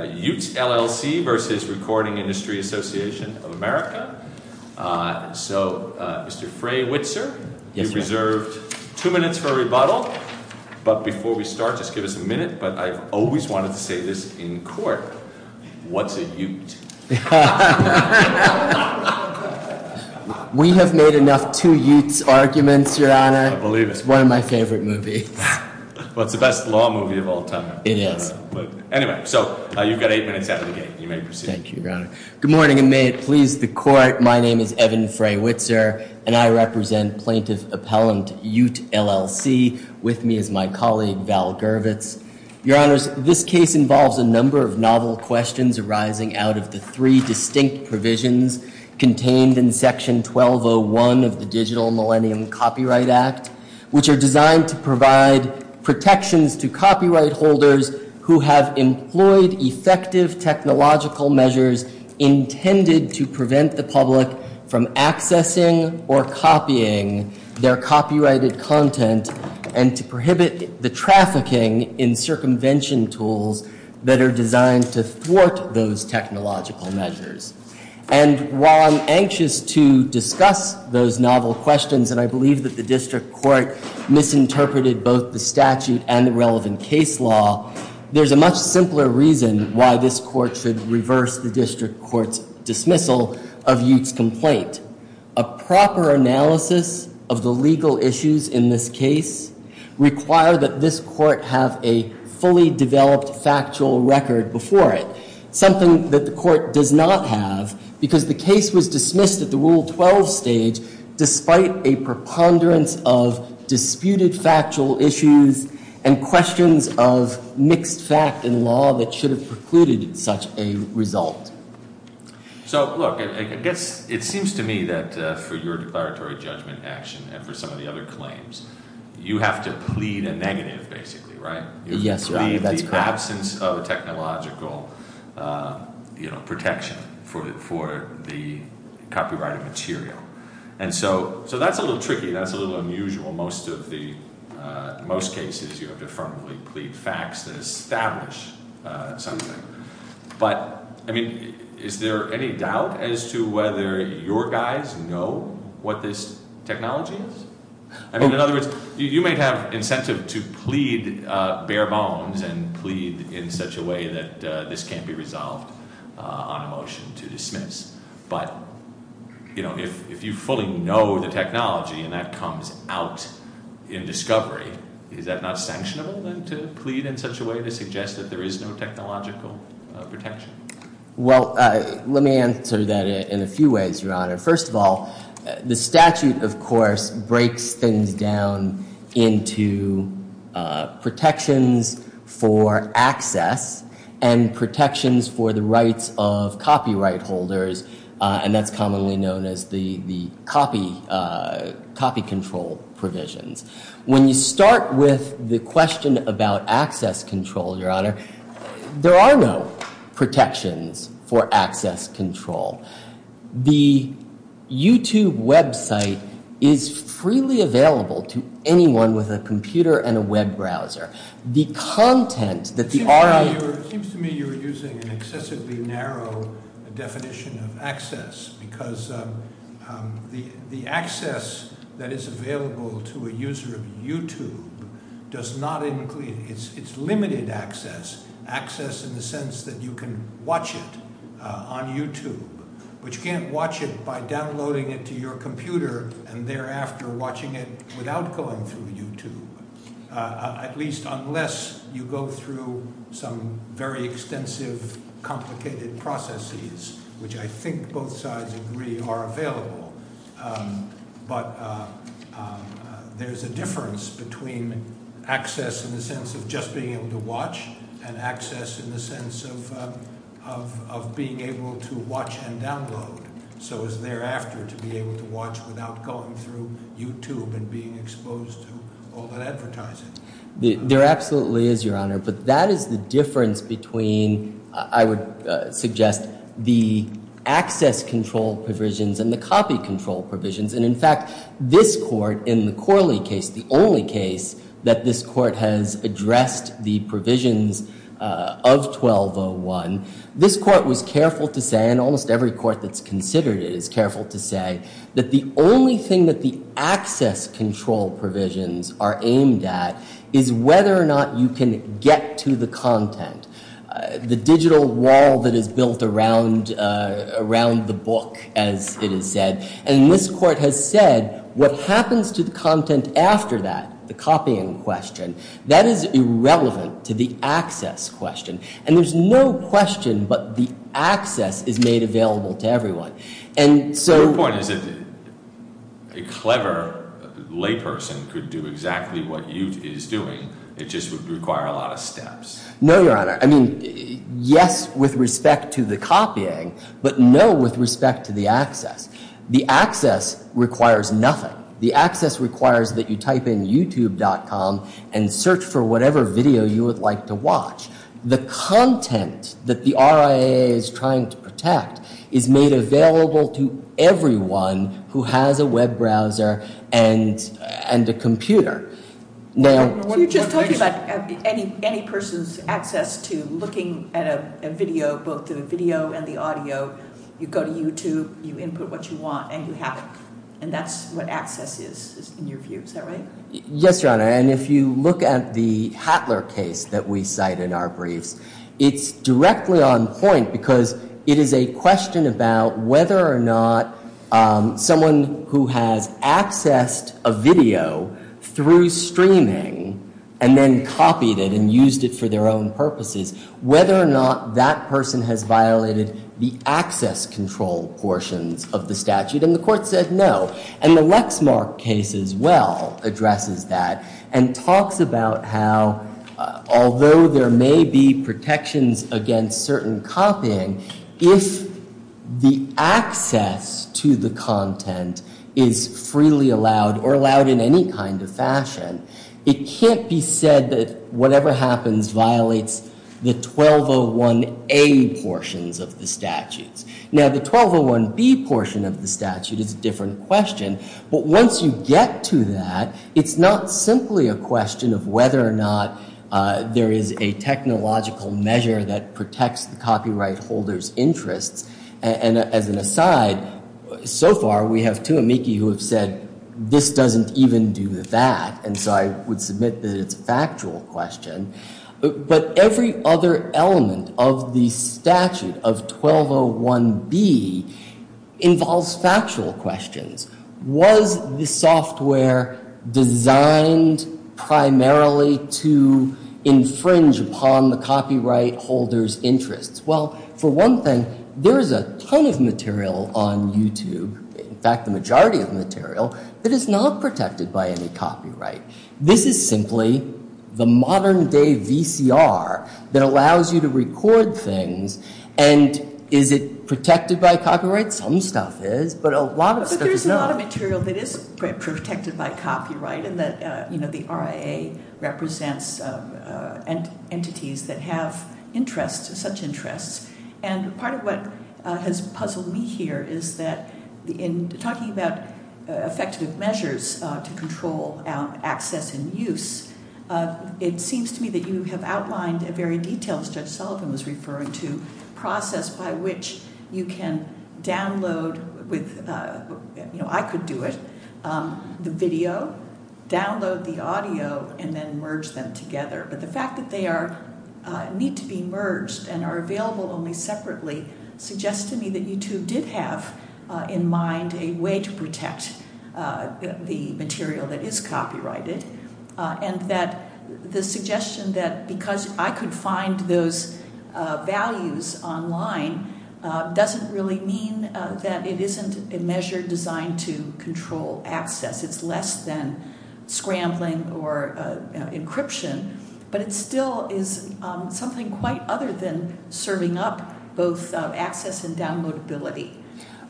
So, Mr. Frey-Witzer, you've reserved two minutes for a rebuttal, but before we start just give us a minute, but I've always wanted to say this in court, what's a ute? We have made enough two-utes arguments, Your Honor. I believe it. It's one of my favorite movies. Well, it's the best law movie of all time. It is. But anyway, so you've got eight minutes out of the game. You may proceed. Thank you, Your Honor. Good morning, and may it please the Court. My name is Evan Frey-Witzer, and I represent Plaintiff Appellant Ute LLC. With me is my colleague, Val Gervitz. Your Honors, this case involves a number of novel questions arising out of the three distinct provisions contained in Section 1201 of the Digital Millennium Copyright Act, which are who have employed effective technological measures intended to prevent the public from accessing or copying their copyrighted content, and to prohibit the trafficking in circumvention tools that are designed to thwart those technological measures. And while I'm anxious to discuss those novel questions, and I believe that the District there's a much simpler reason why this Court should reverse the District Court's dismissal of Ute's complaint. A proper analysis of the legal issues in this case require that this Court have a fully developed factual record before it, something that the Court does not have, because the case was dismissed at the Rule 12 stage despite a preponderance of disputed factual issues and questions of mixed fact and law that should have precluded such a result. So look, I guess it seems to me that for your declaratory judgment action and for some of the other claims, you have to plead a negative, basically, right? Yes, Your Honor, that's correct. You have to plead the absence of technological, you know, protection for the copyrighted material. And so that's a little tricky. That's a little unusual. Most of the, most cases you have to affirmatively plead facts that establish something. But I mean, is there any doubt as to whether your guys know what this technology is? I mean, in other words, you might have incentive to plead bare bones and plead in such a way that this can't be resolved on a motion to dismiss. But, you know, if you fully know the technology and that comes out in discovery, is that not sanctionable then to plead in such a way to suggest that there is no technological protection? Well, let me answer that in a few ways, Your Honor. First of all, the statute, of course, breaks things down into protections for access and protections for the rights of copyright holders. And that's commonly known as the copy control provisions. When you start with the question about access control, Your Honor, there are no protections for access control. The YouTube website is freely available to anyone with a computer and a web browser. The content that the RIO- It seems to me you're using an excessively narrow definition of access because the access that is available to a user of YouTube does not include, it's limited access, access in the sense that you can watch it on YouTube, but you can't watch it by downloading it to your computer and thereafter watching it without going through YouTube, at least unless you go through some very extensive, complicated processes, which I think both sides agree are available. But there's a difference between access in the sense of just being able to watch and download, so as thereafter to be able to watch without going through YouTube and being exposed to all that advertising. There absolutely is, Your Honor, but that is the difference between, I would suggest, the access control provisions and the copy control provisions. And in fact, this court, in the Corley case, the only case that this court has addressed the provisions of 1201. This court was careful to say, and almost every court that's considered it is careful to say, that the only thing that the access control provisions are aimed at is whether or not you can get to the content. The digital wall that is built around the book, as it is said, and this court has said what happens to the content after that, the copying question, that is irrelevant to the access question. And there's no question but the access is made available to everyone. And so- The point is that a clever layperson could do exactly what you is doing, it just would require a lot of steps. No, Your Honor. I mean, yes with respect to the copying, but no with respect to the access. The access requires nothing. The access requires that you type in youtube.com and search for whatever video you would like to watch. The content that the RIA is trying to protect is made available to everyone who has a web browser and a computer. Now- You're just talking about any person's access to looking at a video, both the video and the audio. You go to YouTube, you input what you want, and you have it. And that's what access is, in your view, is that right? Yes, Your Honor. And if you look at the Hattler case that we cite in our briefs, it's directly on point because it is a question about whether or not someone who has accessed a video through streaming and then copied it and used it for their own purposes, whether or not that person has violated the access control portions of the statute. And the court said no. And the Lexmark case as well addresses that and talks about how, although there may be protections against certain copying, if the access to the content is freely allowed or allowed in any kind of fashion, it can't be said that whatever happens violates the 1201A portions of the statutes. Now, the 1201B portion of the statute is a different question. But once you get to that, it's not simply a question of whether or not there is a technological measure that protects the copyright holder's interests. And as an aside, so far we have two amici who have said, this doesn't even do that. And so I would submit that it's a factual question. But every other element of the statute of 1201B involves factual questions. Was the software designed primarily to infringe upon the copyright holder's interests? Well, for one thing, there is a ton of material on YouTube, in fact, the majority of material, that is not protected by any copyright. This is simply the modern day VCR that allows you to record things. And is it protected by copyright? Some stuff is, but a lot of stuff is not. But there's a lot of material that is protected by copyright, and the RIA represents entities that have interests, such interests. And part of what has puzzled me here is that in talking about effective measures to control access and use, it seems to me that you have outlined a very detailed, as Judge Sullivan was referring to, process by which you can download, I could do it, the video, download the audio, and then merge them together. But the fact that they need to be merged and are available only separately suggests to me that YouTube did have in mind a way to protect the material that is copyrighted. And that the suggestion that because I could find those values online doesn't really mean that it isn't a measure designed to control access. It's less than scrambling or encryption. But it still is something quite other than serving up both access and downloadability.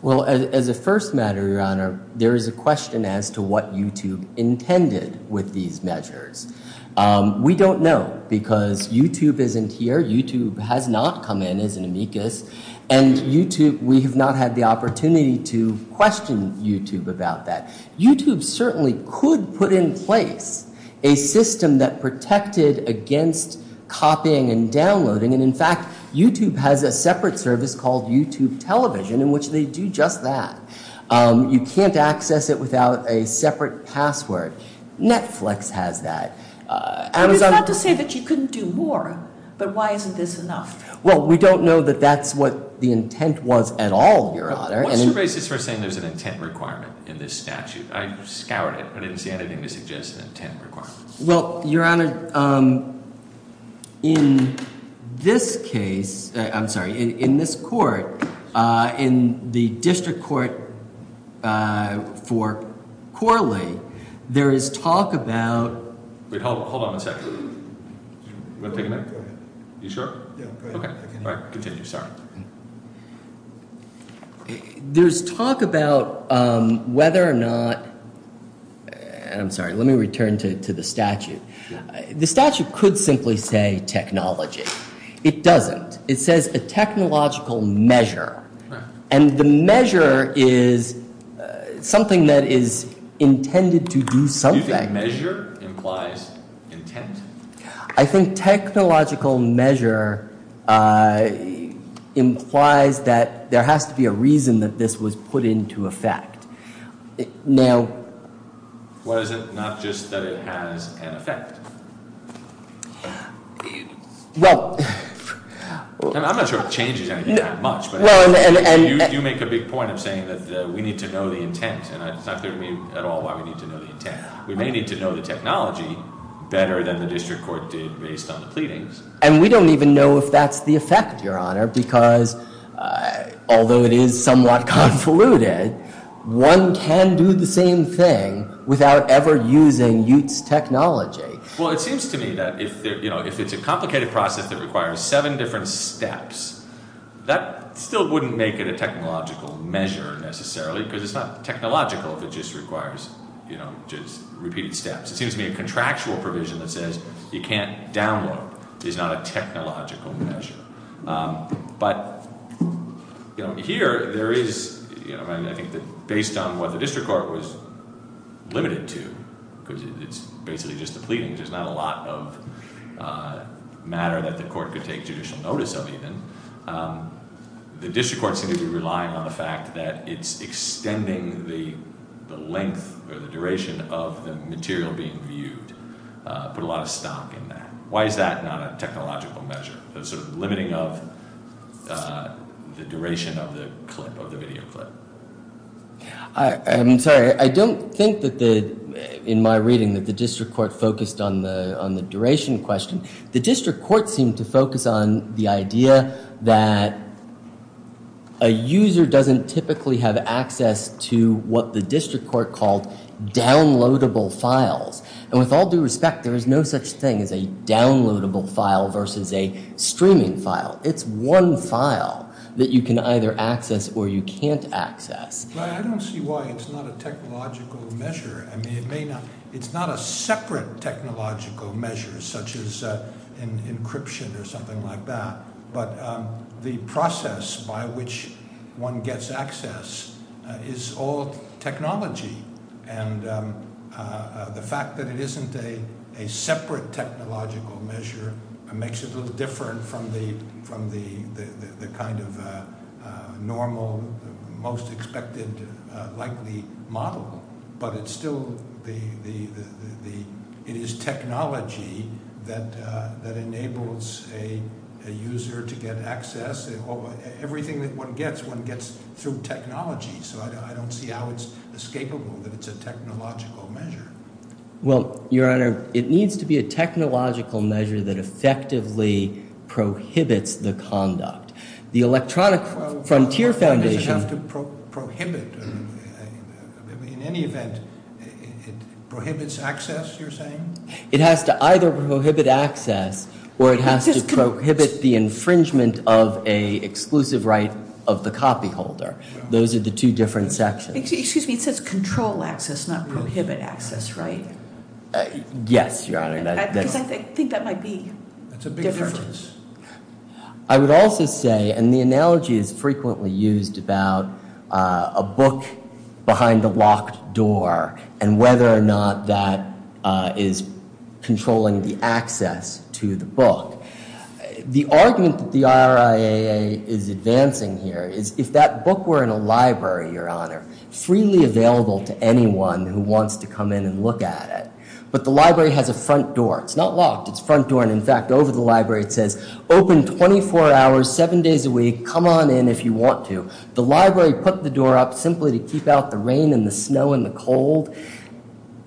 Well, as a first matter, Your Honor, there is a question as to what YouTube intended with these measures. We don't know, because YouTube isn't here. YouTube has not come in as an amicus. And YouTube, we have not had the opportunity to question YouTube about that. YouTube certainly could put in place a system that protected against copying and downloading. And in fact, YouTube has a separate service called YouTube Television, in which they do just that. You can't access it without a separate password. Netflix has that. Amazon- It's not to say that you couldn't do more, but why isn't this enough? Well, we don't know that that's what the intent was at all, Your Honor. What's the basis for saying there's an intent requirement in this statute? I scoured it, but I didn't see anything that suggests an intent requirement. Well, Your Honor, in this case, I'm sorry, in this court, in the district court for Corley, there is talk about- Wait, hold on one second. You want to take a minute? You sure? Yeah, go ahead. All right, continue, sorry. There's talk about whether or not, I'm sorry, let me return to the statute. The statute could simply say technology. It doesn't. It says a technological measure. And the measure is something that is intended to do something. Do you think measure implies intent? I think technological measure implies that there has to be a reason that this was put into effect. Now- What is it? Not just that it has an effect. Well- I'm not sure it changes anything that much, but you make a big point of saying that we need to know the intent. And it's not clear to me at all why we need to know the intent. We may need to know the technology better than the district court did based on the pleadings. And we don't even know if that's the effect, your honor, because although it is somewhat convoluted, one can do the same thing without ever using UTE's technology. Well, it seems to me that if it's a complicated process that requires seven different steps, that still wouldn't make it a technological measure necessarily, because it's not technological if it just requires just repeated steps. It seems to me a contractual provision that says you can't download is not a technological measure. But here there is, I think that based on what the district court was limited to, because it's basically just the pleadings, there's not a lot of matter that the court could take judicial notice of even. The district court seems to be relying on the fact that it's extending the length or the duration of the material being viewed, put a lot of stock in there. Why is that not a technological measure? There's a limiting of the duration of the clip, of the video clip. I'm sorry, I don't think that in my reading that the district court focused on the duration question. The district court seemed to focus on the idea that a user doesn't typically have access to what the district court called downloadable files. And with all due respect, there is no such thing as a downloadable file versus a streaming file. It's one file that you can either access or you can't access. I don't see why it's not a technological measure. I mean, it's not a separate technological measure such as encryption or something like that. But the process by which one gets access is all technology. And the fact that it isn't a separate technological measure makes it a little different from the kind of normal, most expected, likely model. But it's still, it is technology that enables a user to get access. Everything that one gets, one gets through technology. So I don't see how it's escapable that it's a technological measure. Well, your honor, it needs to be a technological measure that effectively prohibits the conduct. The Electronic Frontier Foundation- Well, why does it have to prohibit? In any event, it prohibits access, you're saying? It has to either prohibit access or it has to prohibit the infringement of a exclusive right of the copy holder. Those are the two different sections. Excuse me, it says control access, not prohibit access, right? Yes, your honor, that's- Because I think that might be different. That's a big difference. I would also say, and the analogy is frequently used about a book behind a locked door and whether or not that is controlling the access to the book. The argument that the RIAA is advancing here is if that book were in a library, your honor, freely available to anyone who wants to come in and look at it, but the library has a front door, it's not locked, it's front door, and in fact, over the library, it says, open 24 hours, seven days a week, come on in if you want to. The library put the door up simply to keep out the rain and the snow and the cold.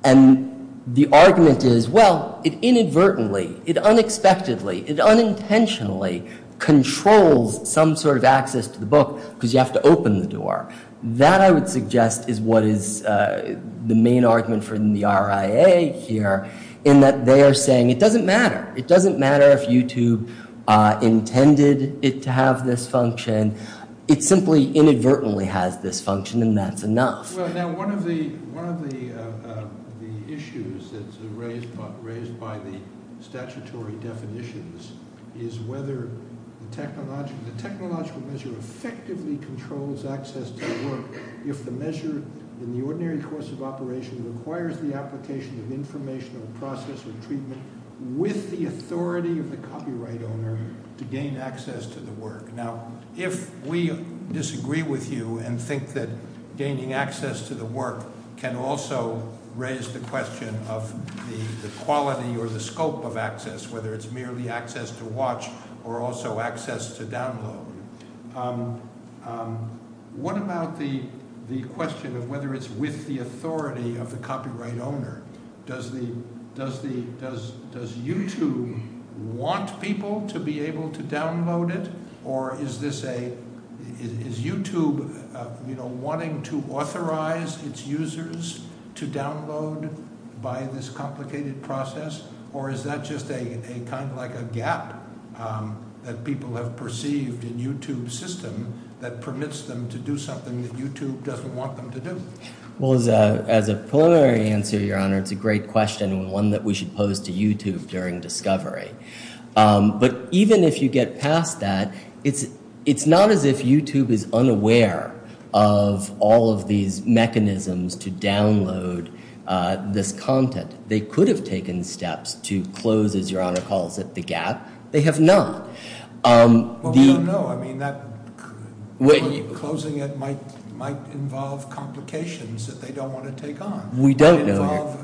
And the argument is, well, it inadvertently, it unexpectedly, it unintentionally controls some sort of access to the book because you have to open the door. That, I would suggest, is what is the main argument for the RIAA here, in that they are saying it doesn't matter. It doesn't matter if YouTube intended it to have this function. It simply inadvertently has this function and that's enough. Now, one of the issues that's raised by the statutory definitions is whether the technological measure effectively controls access to the book if the measure, in the ordinary course of operation, requires the application of informational process or treatment with the authority of the copyright owner to gain access to the work. Now, if we disagree with you and think that gaining access to the work can also raise the question of the quality or the scope of access, whether it's merely access to watch or also access to download, what about the question of whether it's with the authority of the copyright owner? Does YouTube want people to be able to download it? Or is YouTube wanting to authorize its users to download by this complicated process? Or is that just kind of like a gap that people have perceived in YouTube's system that permits them to do something that YouTube doesn't want them to do? Well, as a preliminary answer, Your Honor, it's a great question and one that we should pose to YouTube during discovery. But even if you get past that, it's not as if YouTube is unaware of all of these mechanisms to download this content. They could have taken steps to close, as Your Honor calls it, the gap. They have not. Well, we don't know. Closing it might involve complications that they don't want to take on. We don't know.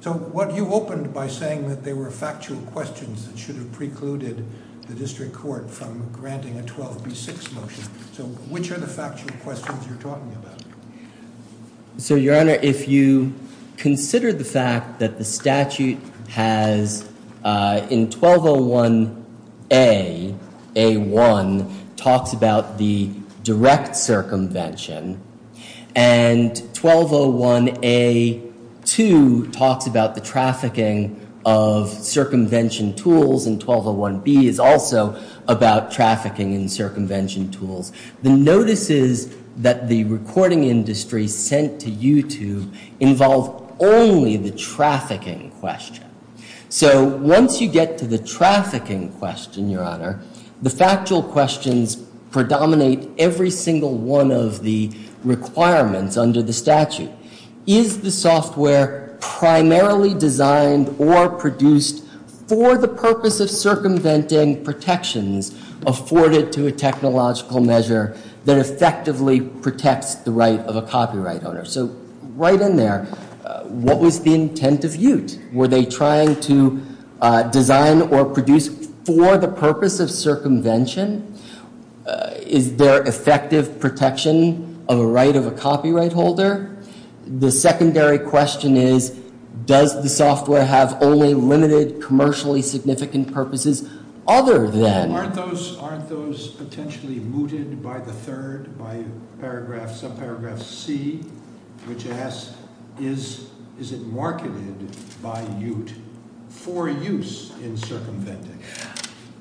So what you opened by saying that they were factual questions that should have precluded the district court from granting a 12B6 motion. So which are the factual questions you're talking about? So, Your Honor, if you consider the fact that the statute has, in 1201A, A1 talks about the direct circumvention. And 1201A2 talks about the trafficking of circumvention tools and 1201B is also about trafficking and circumvention tools. The notices that the recording industry sent to YouTube involve only the trafficking question. So once you get to the trafficking question, Your Honor, the factual questions predominate every single one of the requirements under the statute. Is the software primarily designed or produced for the purpose of circumventing or are there other protections afforded to a technological measure that effectively protects the right of a copyright owner? So right in there, what was the intent of Ute? Were they trying to design or produce for the purpose of circumvention? Is there effective protection of a right of a copyright holder? The secondary question is, does the software have only limited commercially significant purposes? Aren't those potentially mooted by the third, by subparagraph C, which asks, is it marketed by Ute for use in circumventing?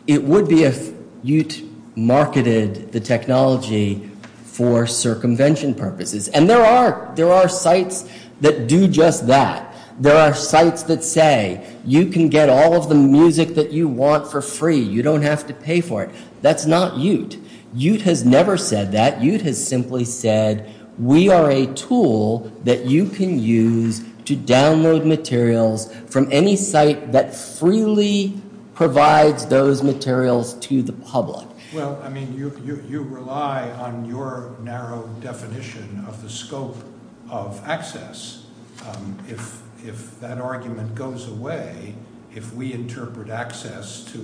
It would be if Ute marketed the technology for circumvention purposes. And there are sites that do just that. There are sites that say, you can get all of the music that you want for free. You don't have to pay for it. That's not Ute. Ute has never said that. Ute has simply said, we are a tool that you can use to download materials from any site that freely provides those materials to the public. Well, I mean, you rely on your narrow definition of the scope of access. If that argument goes away, if we interpret access to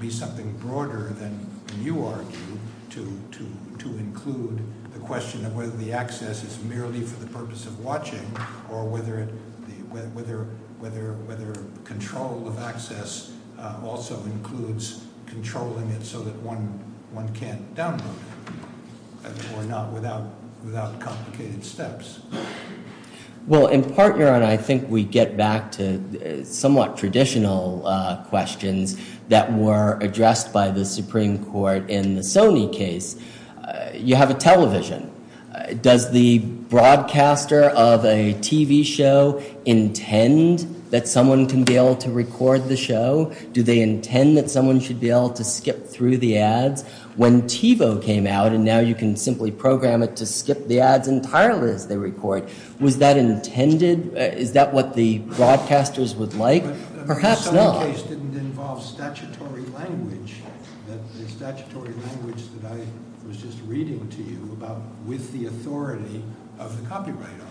be something broader than you argue, to include the question of whether the access is merely for the purpose of watching or whether control of access also includes controlling it so that one can't download it, or not without complicated steps. Well, in part, Your Honor, I think we get back to somewhat traditional questions that were addressed by the Supreme Court in the Sony case. You have a television. Does the broadcaster of a TV show intend that someone can be able to record the show? Do they intend that someone should be able to skip through the ads? When TiVo came out, and now you can simply program it to skip the ads entirely as they record, was that intended? Is that what the broadcasters would like? Perhaps not. The Sony case didn't involve statutory language. The statutory language that I was just reading to you about with the authority of the copyright owner.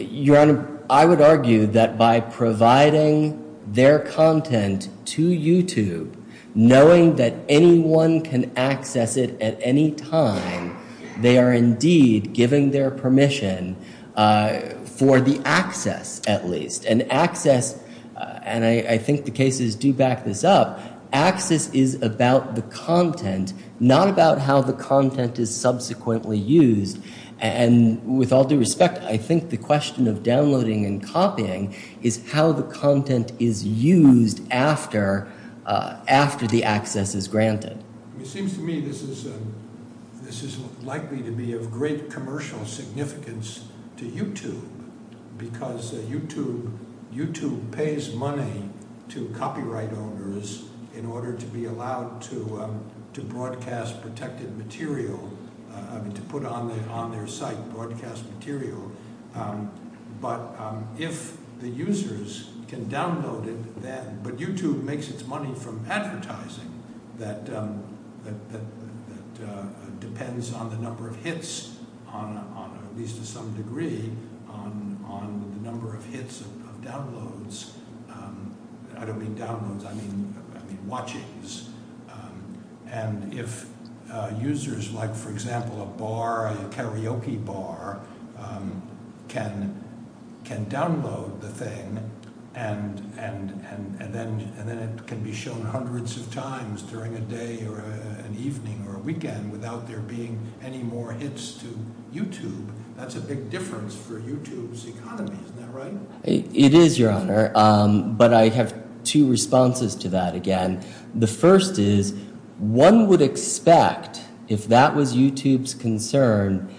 Your Honor, I would argue that by providing their content to YouTube, knowing that anyone can access it at any time, they are indeed giving their permission for the access, at least. And access, and I think the cases do back this up, access is about the content, not about how the content is subsequently used. And with all due respect, I think the question of downloading and copying is how the content is used after the access is granted. It seems to me this is likely to be of great commercial significance to YouTube because YouTube pays money to copyright owners in order to be allowed to broadcast protected material, to put on their site broadcast material. But if the users can download it then, but YouTube makes its money from advertising that depends on the number of hits, at least to some degree, on the number of hits of downloads. I don't mean downloads, I mean watchings. And if users like, for example, a bar, a karaoke bar, can download the thing, and then it can be shown hundreds of times during a day or an evening or a weekend without there being any more hits to YouTube, that's a big difference for YouTube's economy, isn't that right? It is, Your Honor, but I have two responses to that again. The first is, one would expect, if that was YouTube's concern,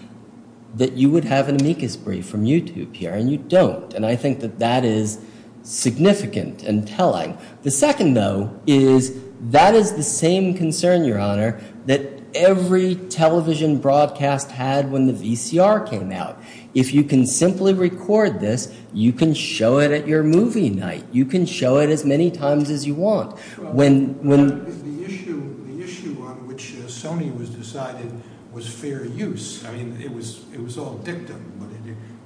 that you would have an amicus brief from YouTube here, and you don't. And I think that that is significant and telling. The second, though, is that is the same concern, Your Honor, that every television broadcast had when the VCR came out. If you can simply record this, you can show it at your movie night. You can show it as many times as you want. The issue on which Sony was decided was fair use. I mean, it was all dictum, but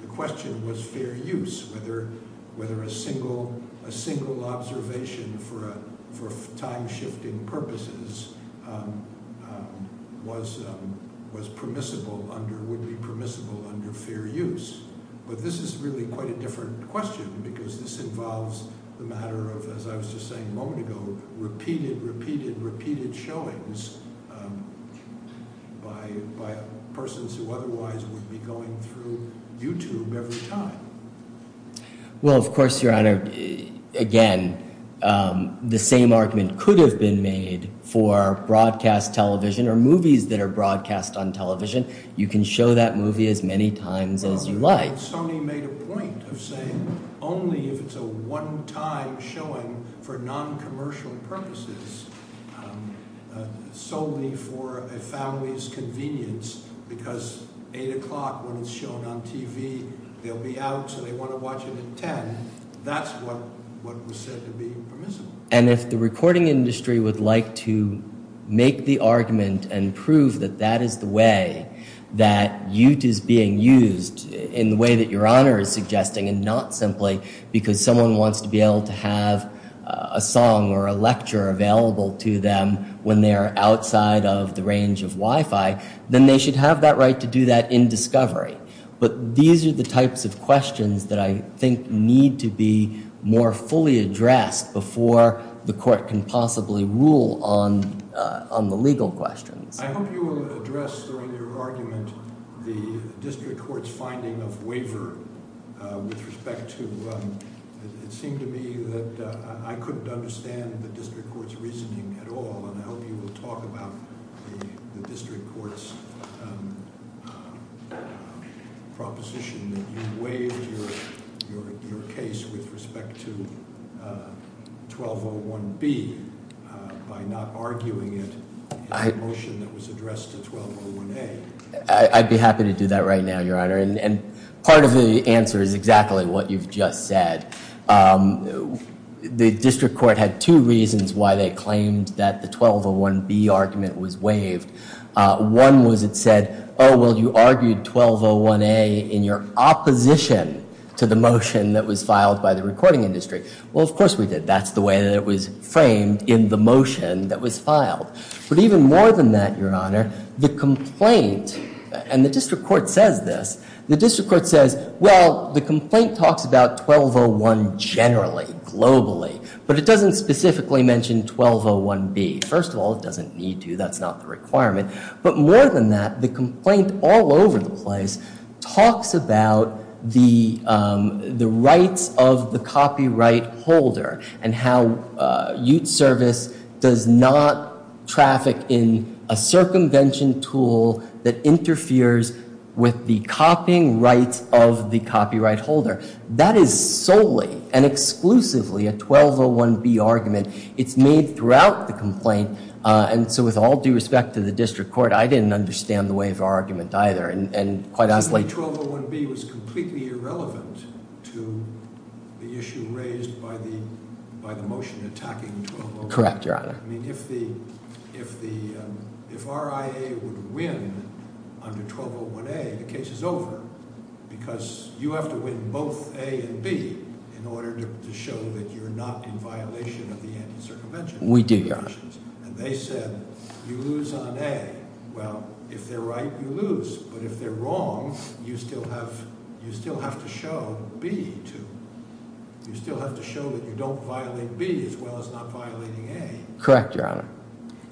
the question was fair use, whether a single observation for time-shifting purposes would be permissible under fair use. But this is really quite a different question because this involves the matter of, as I was just saying a moment ago, repeated, repeated, repeated showings by persons who otherwise would be going through YouTube every time. Well, of course, Your Honor, again, the same argument could have been made for broadcast television or movies that are broadcast on television. You can show that movie as many times as you like. Well, you know, Sony made a point of saying only if it's a one-time showing for non-commercial purposes, solely for a family's convenience, because 8 o'clock when it's shown on TV, they'll be out so they want to watch it at 10. That's what was said to be permissible. And if the recording industry would like to make the argument and prove that that is the way that Ute is being used in the way that Your Honor is suggesting and not simply because someone wants to be able to have a song or a lecture available to them when they are outside of the range of Wi-Fi, then they should have that right to do that in discovery. But these are the types of questions that I think need to be more fully addressed before the court can possibly rule on the legal questions. I hope you will address during your argument the district court's finding of waiver with respect to... It seemed to me that I couldn't understand the district court's reasoning at all, and I hope you will talk about the district court's proposition that you waived your case with respect to 1201B by not arguing it in the motion that was addressed to 1201A. I'd be happy to do that right now, Your Honor. And part of the answer is exactly what you've just said. The district court had two reasons why they claimed that the 1201B argument was waived. One was it said, oh, well, you argued 1201A in your opposition to the motion that was filed by the recording industry. Well, of course we did. That's the way that it was framed in the motion that was filed. But even more than that, Your Honor, the complaint, and the district court says this, the district court says, well, the complaint talks about 1201 generally, globally, but it doesn't specifically mention 1201B. First of all, it doesn't need to. That's not the requirement. But more than that, the complaint all over the place talks about the rights of the copyright holder and how Ute Service does not traffic in a circumvention tool that interferes with the copying rights of the copyright holder. That is solely and exclusively a 1201B argument. It's made throughout the complaint, and so with all due respect to the district court, I didn't understand the waiver argument either, and quite honestly... 1201B was completely irrelevant to the issue raised by the motion attacking 1201A. Correct, Your Honor. I mean, if the, if the, if RIA would win under 1201A, the case is over, because you have to win both A and B in order to show that you're not in violation of the anti-circumvention regulations. We do, Your Honor. And they said, you lose on A. Well, if they're right, you lose, but if they're wrong, you still have, you still have to show B, too. You still have to show that you don't violate B as well as not violating A. Correct, Your Honor.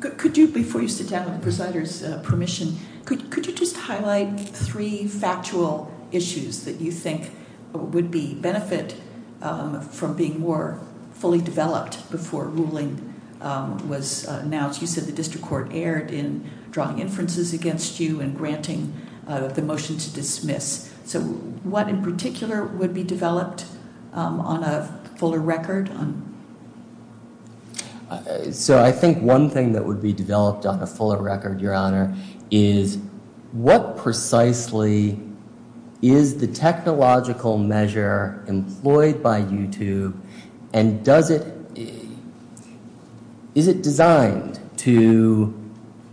Could, could you, before you sit down with the presider's permission, could, could you just highlight three factual issues that you think would be, benefit from being more fully developed before ruling was announced? You said the district court erred in drawing inferences against you and granting the motion to dismiss. So what in particular would be developed on a fuller record? So I think one thing that would be developed on a fuller record, Your Honor, is what precisely is the technological measure employed by YouTube, and does it, is it designed to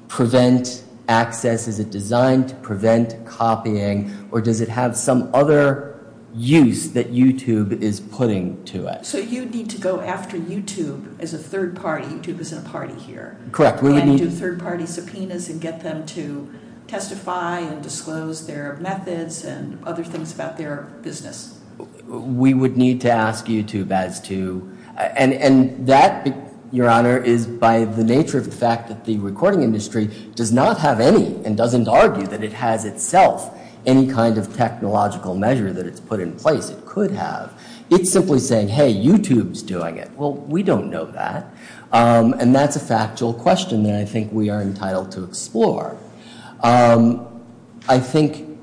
prevent access? Is it designed to prevent copying? Or does it have some other use that YouTube is putting to it? So you'd need to go after YouTube as a third party. YouTube isn't a party here. Correct, we would need... And do third-party subpoenas and get them to testify and disclose their methods and other things about their business. We would need to ask YouTube as to... And, and that, Your Honor, is by the nature of the fact that the recording industry does not have any, and doesn't argue that it has itself, any kind of technological measure that it's put in place it could have. It's simply saying, hey, YouTube's doing it. Well, we don't know that. And that's a factual question that I think we are entitled to explore. I think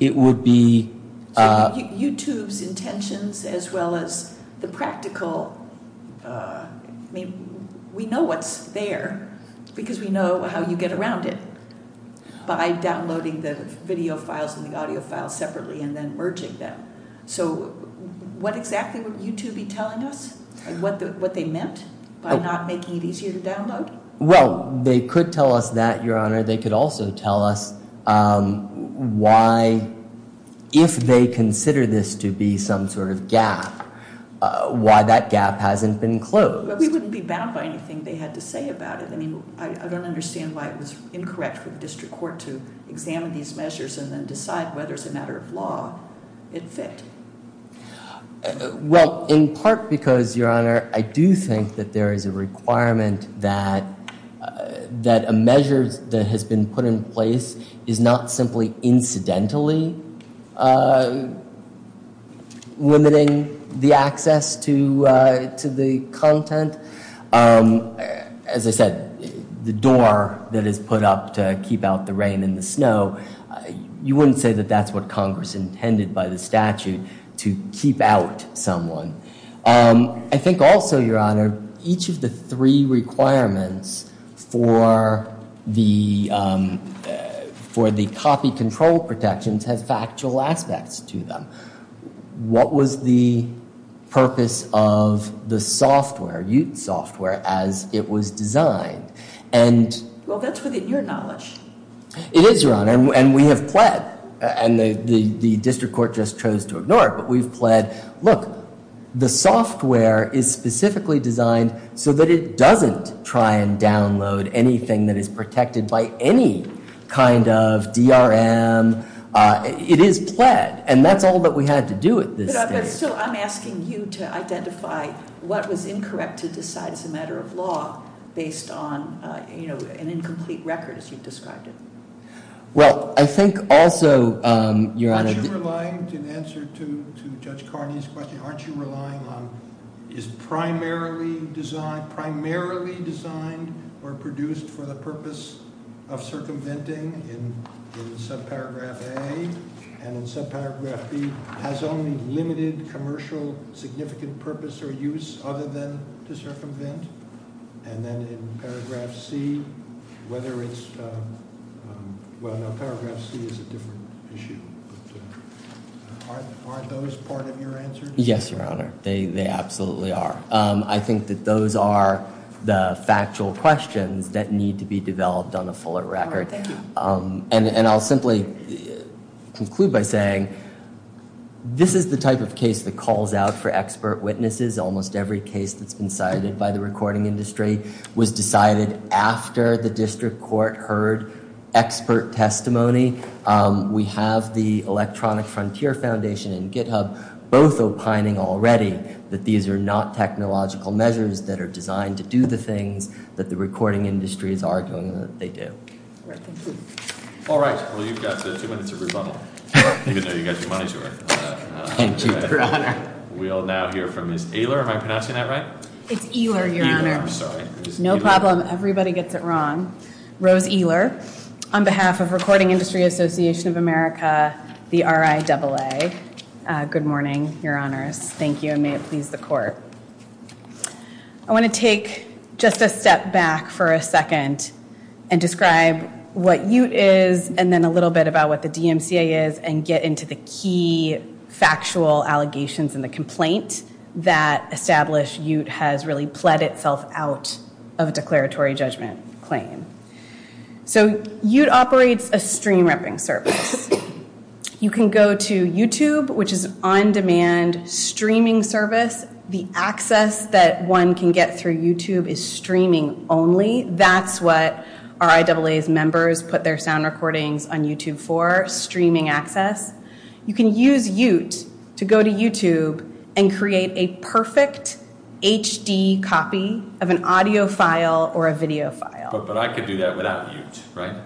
it would be... YouTube's intentions as well as the practical... I mean, we know what's there because we know how you get around it by downloading the video files and the audio files separately and then merging them. So what exactly would YouTube be telling us? What they meant by not making it easier to download? Well, they could tell us that, Your Honor. They could also tell us why, if they consider this to be some sort of gap, why that gap hasn't been closed. But we wouldn't be bound by anything they had to say about it. I mean, I don't understand why it was incorrect for the district court to examine these measures and then decide whether it's a matter of law it fit. Well, in part because, Your Honor, I do think that there is a requirement that a measure that has been put in place is not simply incidentally limiting the access to the content. As I said, the door that is put up to keep out the rain and the snow, you wouldn't say that that's what Congress intended by the statute to keep out someone. I think also, Your Honor, each of the three requirements for the copy control protections has factual aspects to them. What was the purpose of the software? What was the purpose of the software, UTE software, as it was designed? Well, that's within your knowledge. It is, Your Honor. And we have pled. And the district court just chose to ignore it. But we've pled, look, the software is specifically designed so that it doesn't try and download anything that is protected by any kind of DRM. It is pled. And that's all that we had to do at this stage. But still, I'm asking you to identify what was incorrect to decide as a matter of law based on, you know, an incomplete record, as you described it. Well, I think also, Your Honor... Aren't you relying in answer to Judge Carney's question, aren't you relying on is primarily designed, primarily designed or produced for the purpose of circumventing in subparagraph A and in subparagraph B has only limited commercial significant purpose or use other than to circumvent? And then in paragraph C, whether it's... Well, no, paragraph C is a different issue. Aren't those part of your answer? Yes, Your Honor. They absolutely are. I think that those are the factual questions that need to be developed on a fuller record. All right, thank you. And I'll simply conclude by saying this is the type of case that calls out for expert witnesses. Almost every case that's been cited by the recording industry was decided after the district court heard expert testimony. We have the Electronic Frontier Foundation and GitHub both opining already that these are not technological measures that are designed to do the things that the recording industry is arguing that they do. All right, thank you. All right, well, you've got two minutes of rebuttal. Even though you got your money's worth. Thank you, Your Honor. We'll now hear from Ms. Ehler. Am I pronouncing that right? It's Ehler, Your Honor. Ehler, I'm sorry. No problem. Everybody gets it wrong. Rose Ehler, on behalf of Recording Industry Association of America, the RIAA. Good morning, Your Honors. Thank you, and may it please the court. I want to take just a step back for a second and describe what UTE is and then a little bit about what the DMCA is and get into the key factual allegations and the complaint that established UTE has really pled itself out of a declaratory judgment claim. So, UTE operates a stream-repping service. You can go to YouTube, which is an on-demand streaming service. The access that one can get through YouTube is streaming only. That's what RIAA's members put their sound recordings on YouTube for, streaming access. You can use UTE to go to YouTube and create a perfect HD copy of an audio file or a video file. But I could do that without UTE, right?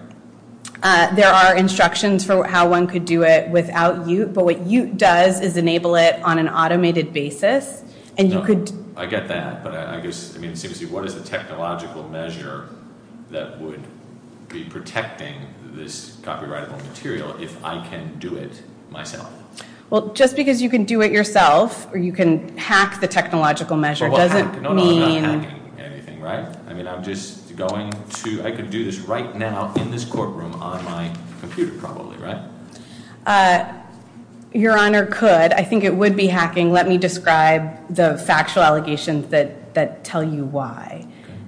There are instructions for how one could do it without UTE, but what UTE does is enable it on an automated basis and you could... I get that, but I guess, I mean, what is the technological measure that would be protecting this copyrightable material if I can do it myself? Well, just because you can do it yourself or you can hack the technological measure doesn't mean... No, I'm not hacking anything, right? I mean, I'm just going to... I could do this right now in this courtroom on my computer probably, right? Your Honor, could. I think it would be hacking. Let me describe the factual allegations that tell you why.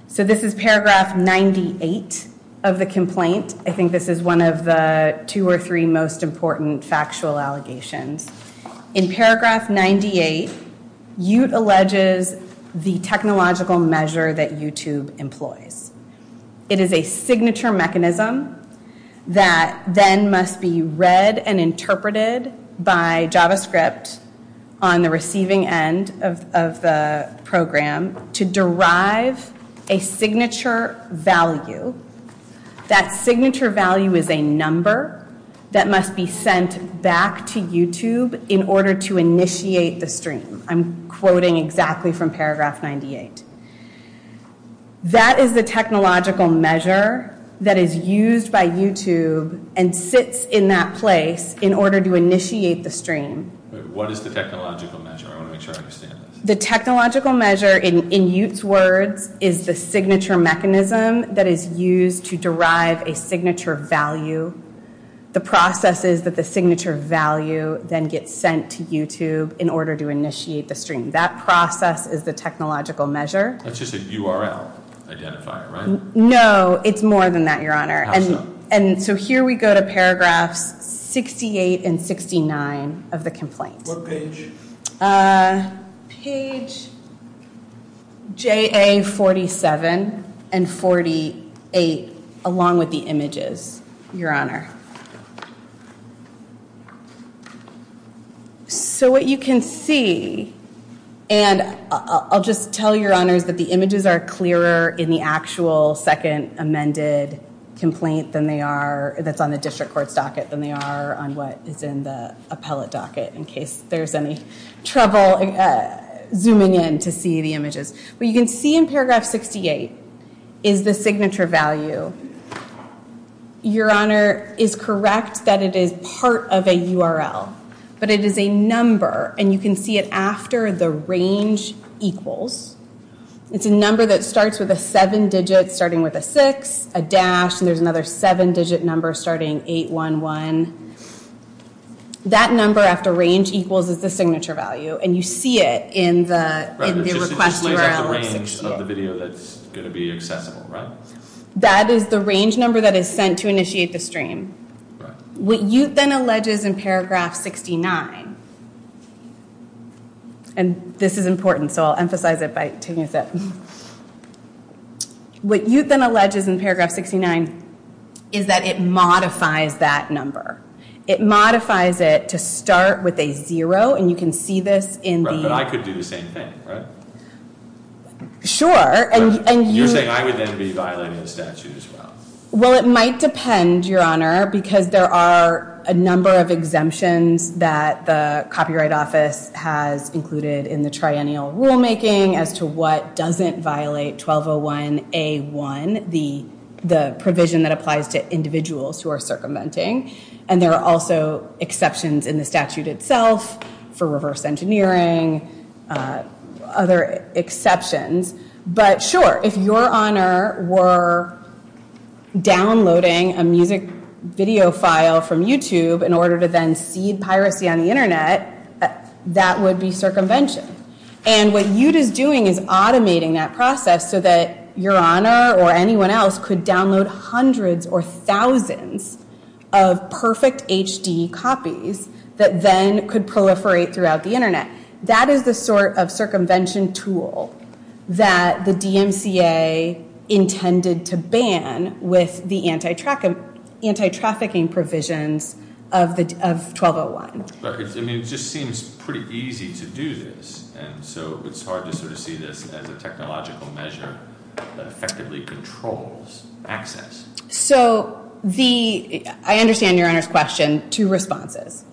So, this is paragraph 98 of the complaint. I think this is one of the two or three most important factual allegations. In paragraph 98, UTE alleges the technological measure that YouTube employs. It is a signature mechanism that then must be read and interpreted by JavaScript on the receiving end of the program to derive a signature value. That signature value is a number that must be sent back to YouTube in order to initiate the stream. I'm quoting exactly from paragraph 98. That is the technological measure that is used by YouTube and sits in that place in order to initiate the stream. What is the technological measure? I want to make sure I understand this. The technological measure in paragraph 98 is the signature mechanism that is used to derive a signature value. The process is that the signature value then gets sent to YouTube in order to initiate the stream. That process is the technological measure. That's just a URL identifier, right? No, it's more than that, it's JA 47 and 48 along with the images, Your Honor. So what you can see and I'll just tell Your Honors that the images are clearer in the actual second amended complaint than they are, that's on the district court's docket than they are on what is in the appellate docket in case there's any trouble zooming in to see the images. What you can see in paragraph 68 is the signature value. Your Honor is correct that it is part of a URL but it is a number and you can see it after the range equals. It's a number that starts with a seven digit starting with a six, a dash and there's another seven digit number starting 811. That number after range equals is the signature value and you can see it in the request URL. That is the range number that is sent to initiate the stream. What you then alleges in paragraph 69 and this is important so I'll emphasize it by taking a sip. What you then alleges in paragraph 69 is that it modifies that number. It modifies it to start with a zero and you can see this in the. But I could do thing, right? Sure. You're saying I would then be violating the statute as well. Well, it might depend, Your Honor, because there are a division that applies to individuals who are circumventing and there are also exceptions in the statute itself for reverse engineering, other exceptions. But, sure, if Your Honor were downloading a music video file from YouTube in order to then cede hundreds or thousands of perfect HD copies that then could proliferate throughout the Internet, that is the sort of circumvention tool that the DMCA intended to ban with the anti-trafficking provisions of 1201. It just seems pretty easy to do this. And so it's hard to sort of see this as a technological measure that effectively controls access. So, the, I understand Your Honor's question, two responses.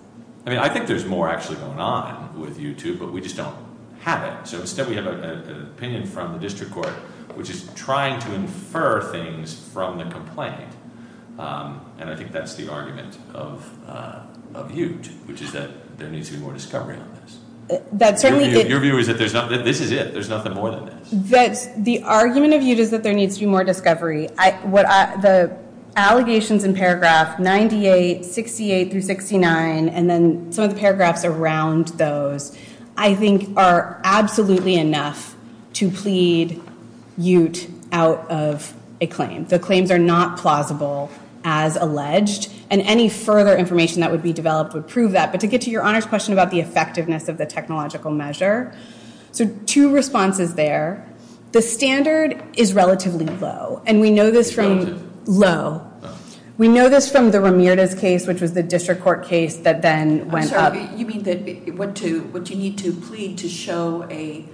I mean, I think there's more actually going on with YouTube, but we just don't have it. So instead we have an opinion from the district court which is trying to infer things from the complaint. And I think that's the argument of YouTube, which is that there needs to be more this. Your view is that this is it. There's nothing more than this. The argument of YouTube is that there needs to be more discovery. I, what I, the allegations in paragraph 98, 68, through 69 and then some of the paragraphs around those I think are absolutely enough to plead Ute out of a claim. The claims are not plausible as alleged and any further information that would be We know this from low. We know this from the Ramirez case which was the district court case that then went up. You mean that what do you need to plead to show a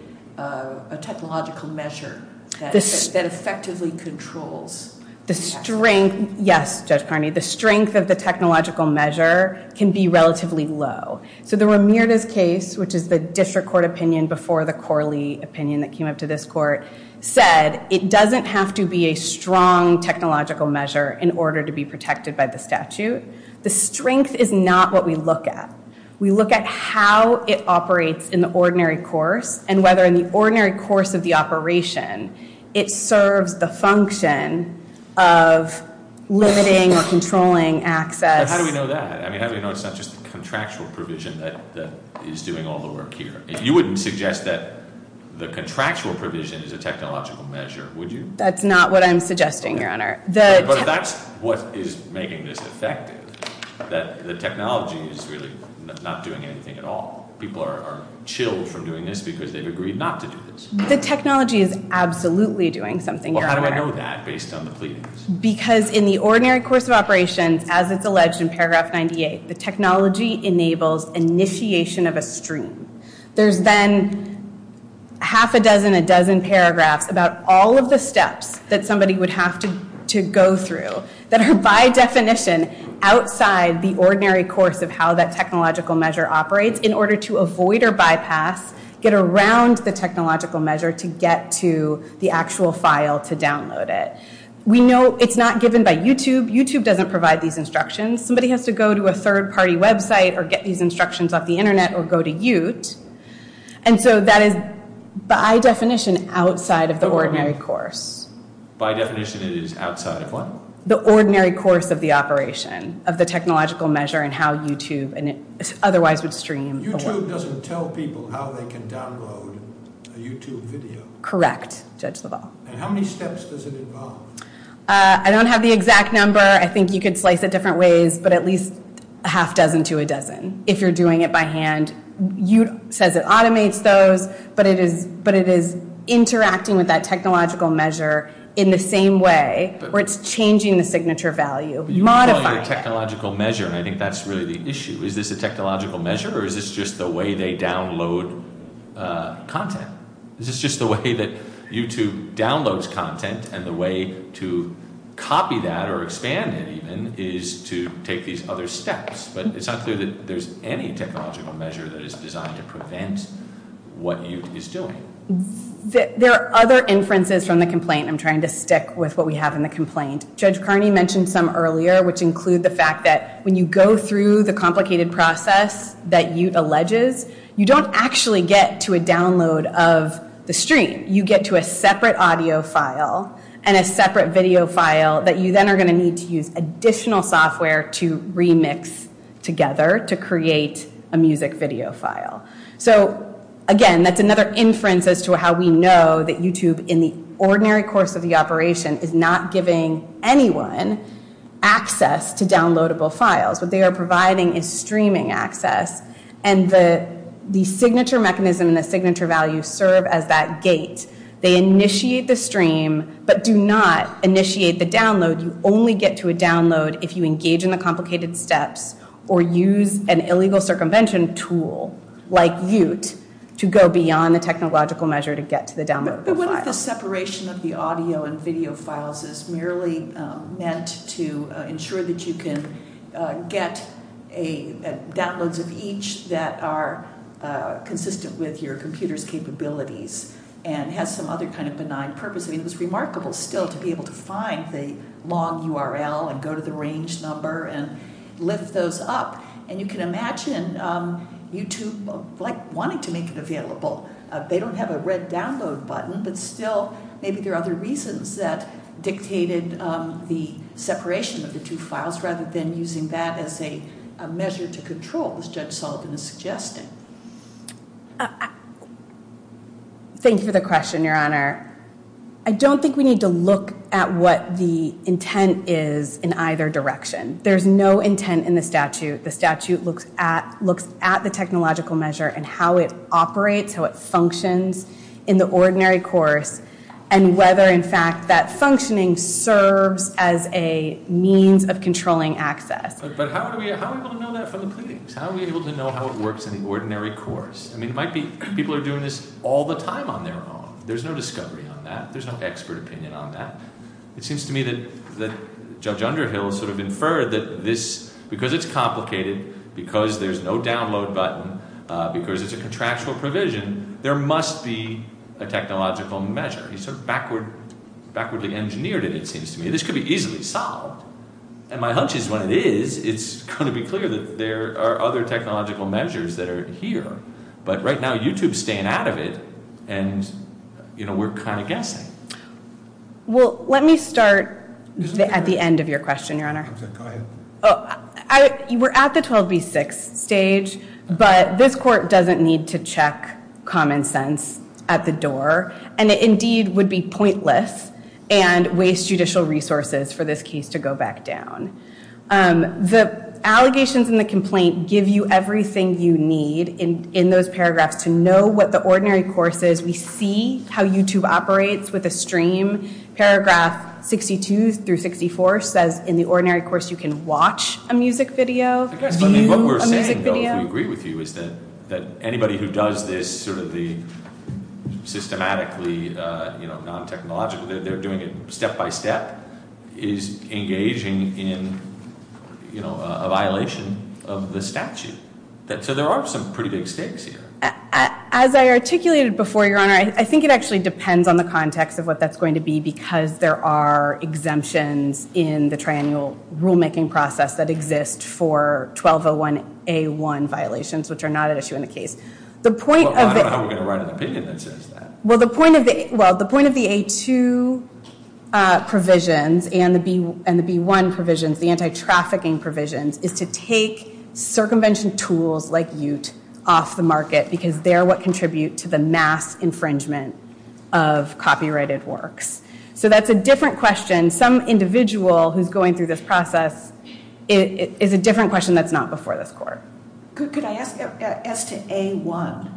technological measure that effectively controls the strength Yes, Judge Carney, the strength of the technological measure can be a wrong technological measure in order to be protected by the statute. The strength is not what we look at. We look at how it operates in the ordinary course and whether in the ordinary course of the operation it serves the function of limiting or controlling access How do we know that? I mean, how do we know it's not just the contractual provision that is doing all the work here? You wouldn't suggest that the contractual provision is a technological measure, would you? That's not what I'm suggesting, Your Honor. But if that's what is in paragraph 98, the technology enables initiation of a stream. There's then half a dozen, a dozen paragraphs about all of the steps that somebody would have to go through that are by definition outside the ordinary course. By definition it is outside of what? The course of the operation of the technological measure and how YouTube otherwise would stream the work. YouTube doesn't tell people how they can download a YouTube video. Correct, Judge LaValle. And how many steps does it involve? I don't have the exact number. I think you could slice it different ways but at least a half dozen to a dozen if you're doing it by hand. YouTube says it automates those but it is interacting with that technological measure in the same way where it's changing the signature value. You call it a technological measure and I think that's really the issue. Is this a technological measure or is this just the way that YouTube downloads content and the way to copy that or expand it even is to take these other steps. But it's not clear that there's any difference between the download of the stream. You get to a separate audio file and a separate video file that you then are going to need to use additional software to remix together to create a stream. have to use the stream to get to the download. You only get to a download if you engage in the complicated steps or use an illegal circumvention tool like ute to go beyond the technological measure to get to the download file. What if the separation of the audio and video files is merely meant to ensure that you can get downloads of each that are consistent with your computer's get to the download file. You don't have a red download button but still maybe there are other reasons that dictated the separation of the two files rather than using that as a measure to control as Judge Sullivan is suggesting. Thank you for the question, Your Honor. I don't think we need to look at what the intent is in either direction. There's no intent in the statute. The statute looks at the technological measure and how it operates, how it functions in the ordinary course and whether in fact that functioning serves as a means of controlling access. But how are we able to know that from the pleadings? How are we able to know how it works in the ordinary course? I mean, it's a contractual provision. There must be a technological measure. He sort of backwardly engineered it, it seems to me. This could be easily solved. And my hunch is when it is, it's going to be clear that there are other technological measures that are here. But right now, this is the 12B6 stage. But this court doesn't need to check common sense at the door. And it indeed would be pointless and waste judicial resources for this case to go back down. The allegations and the complaint give you everything you need in those paragraphs to know what the ordinary course is. We see how YouTube operates with a stream. Paragraph 64 says in the ordinary course you can watch a music video, view a music video. What we're saying, though, if we agree with you, is that anybody who does this systematically non-technological they're doing it step by step is engaging in a violation of the statute. So there are some pretty big stakes here. As I articulated before, Your Honor, I think it actually depends on the context of what that's going to be because there are exemptions in the tri-annual rulemaking process that exist for 1201A1 violations which are not an issue in the case. The point of the A2 provisions and the B1 provisions, the anti-trafficking provisions, is to take circumvention tools like Ute off the market because they're what contribute to the mass infringement of copyrighted works. So that's a different question that's not before this court. Could I ask as to A1,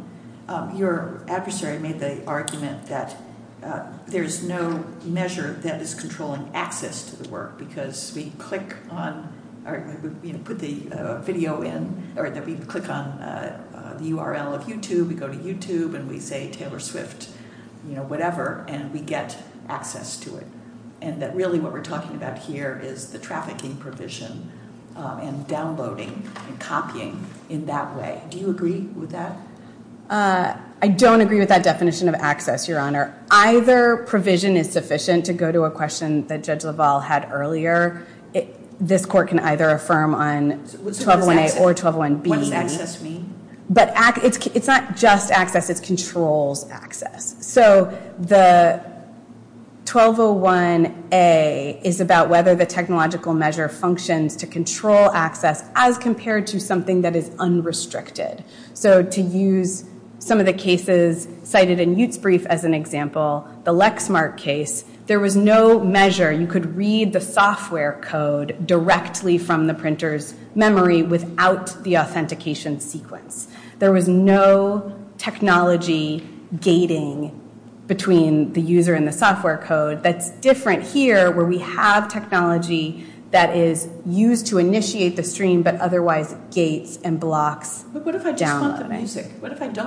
your adversary made the argument that there's no measure that is controlling access to the work because we click on put the video in or that we click on the URL of YouTube, we go to YouTube and we say Taylor Swift, you know, whatever and we get access to it. And that really what we're talking about here is the trafficking provision and downloading and copying in that way. Do you agree with that? I don't agree with that definition of access, Your Honor. Either provision is sufficient to go to a question that Judge Laval had earlier. This Court can either affirm on 1201A or 1201B. What does access mean? It's not just access, it controls access. So the 1201A is about whether the technological measure functions to control access as compared to something that is unrestricted. So to use some of the cases cited in Utes brief as an example, the Lexmark case, there was no measure. You could read the software code directly from the printer's memory without the authentication sequence. There was no technology gating between the user and the software code that's different here where we have technology that is used to initiate the stream but otherwise gates and blocks. What if I don't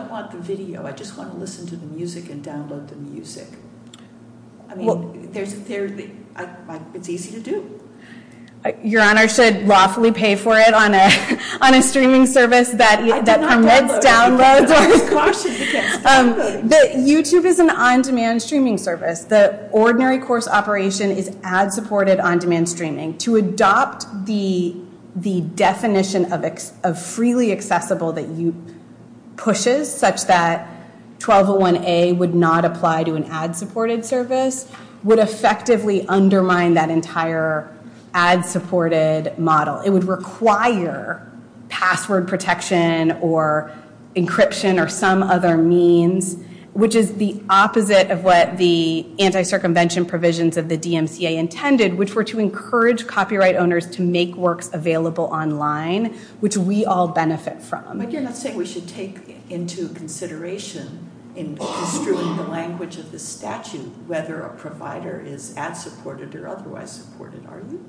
want the video, I just want to listen to the music and download the music? It's easy to do. Your honor should lawfully pay for it on a streaming service that permits downloads. YouTube is an on-demand streaming service. The ordinary course operation is ad supported on-demand streaming. To adopt the definition of freely accessible that pushes such that 1201A would not apply to an ad subscription or some other means which is the opposite of what the anti- circumvention provisions of the DMCA intended which were to encourage copyright owners to make works available online which we all benefit from. But you're not saying we should take into consideration in construing the language of the statute whether a provider is ad supported or otherwise supported are you?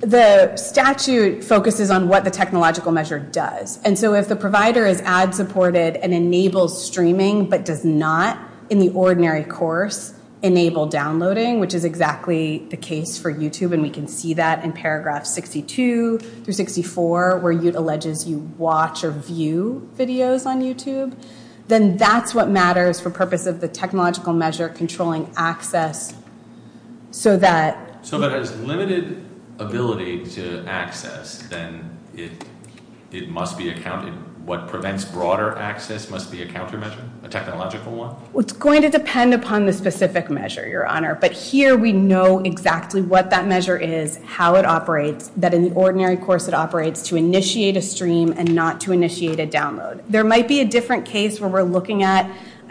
The statute focuses on what the technological measure does. And so if the provider is ad supported and enables streaming but does not in the ordinary course enable downloading which is exactly the case for YouTube and we can see that in paragraph 62 through 64 where you can watch or view videos on YouTube then that's what matters for purpose of the technological measure controlling access so that So that has limited ability to access then it here we know exactly what that measure is how it operates that in the ordinary course it operates to initiate a stream and not to initiate a download. There might be a different case where we're looking at a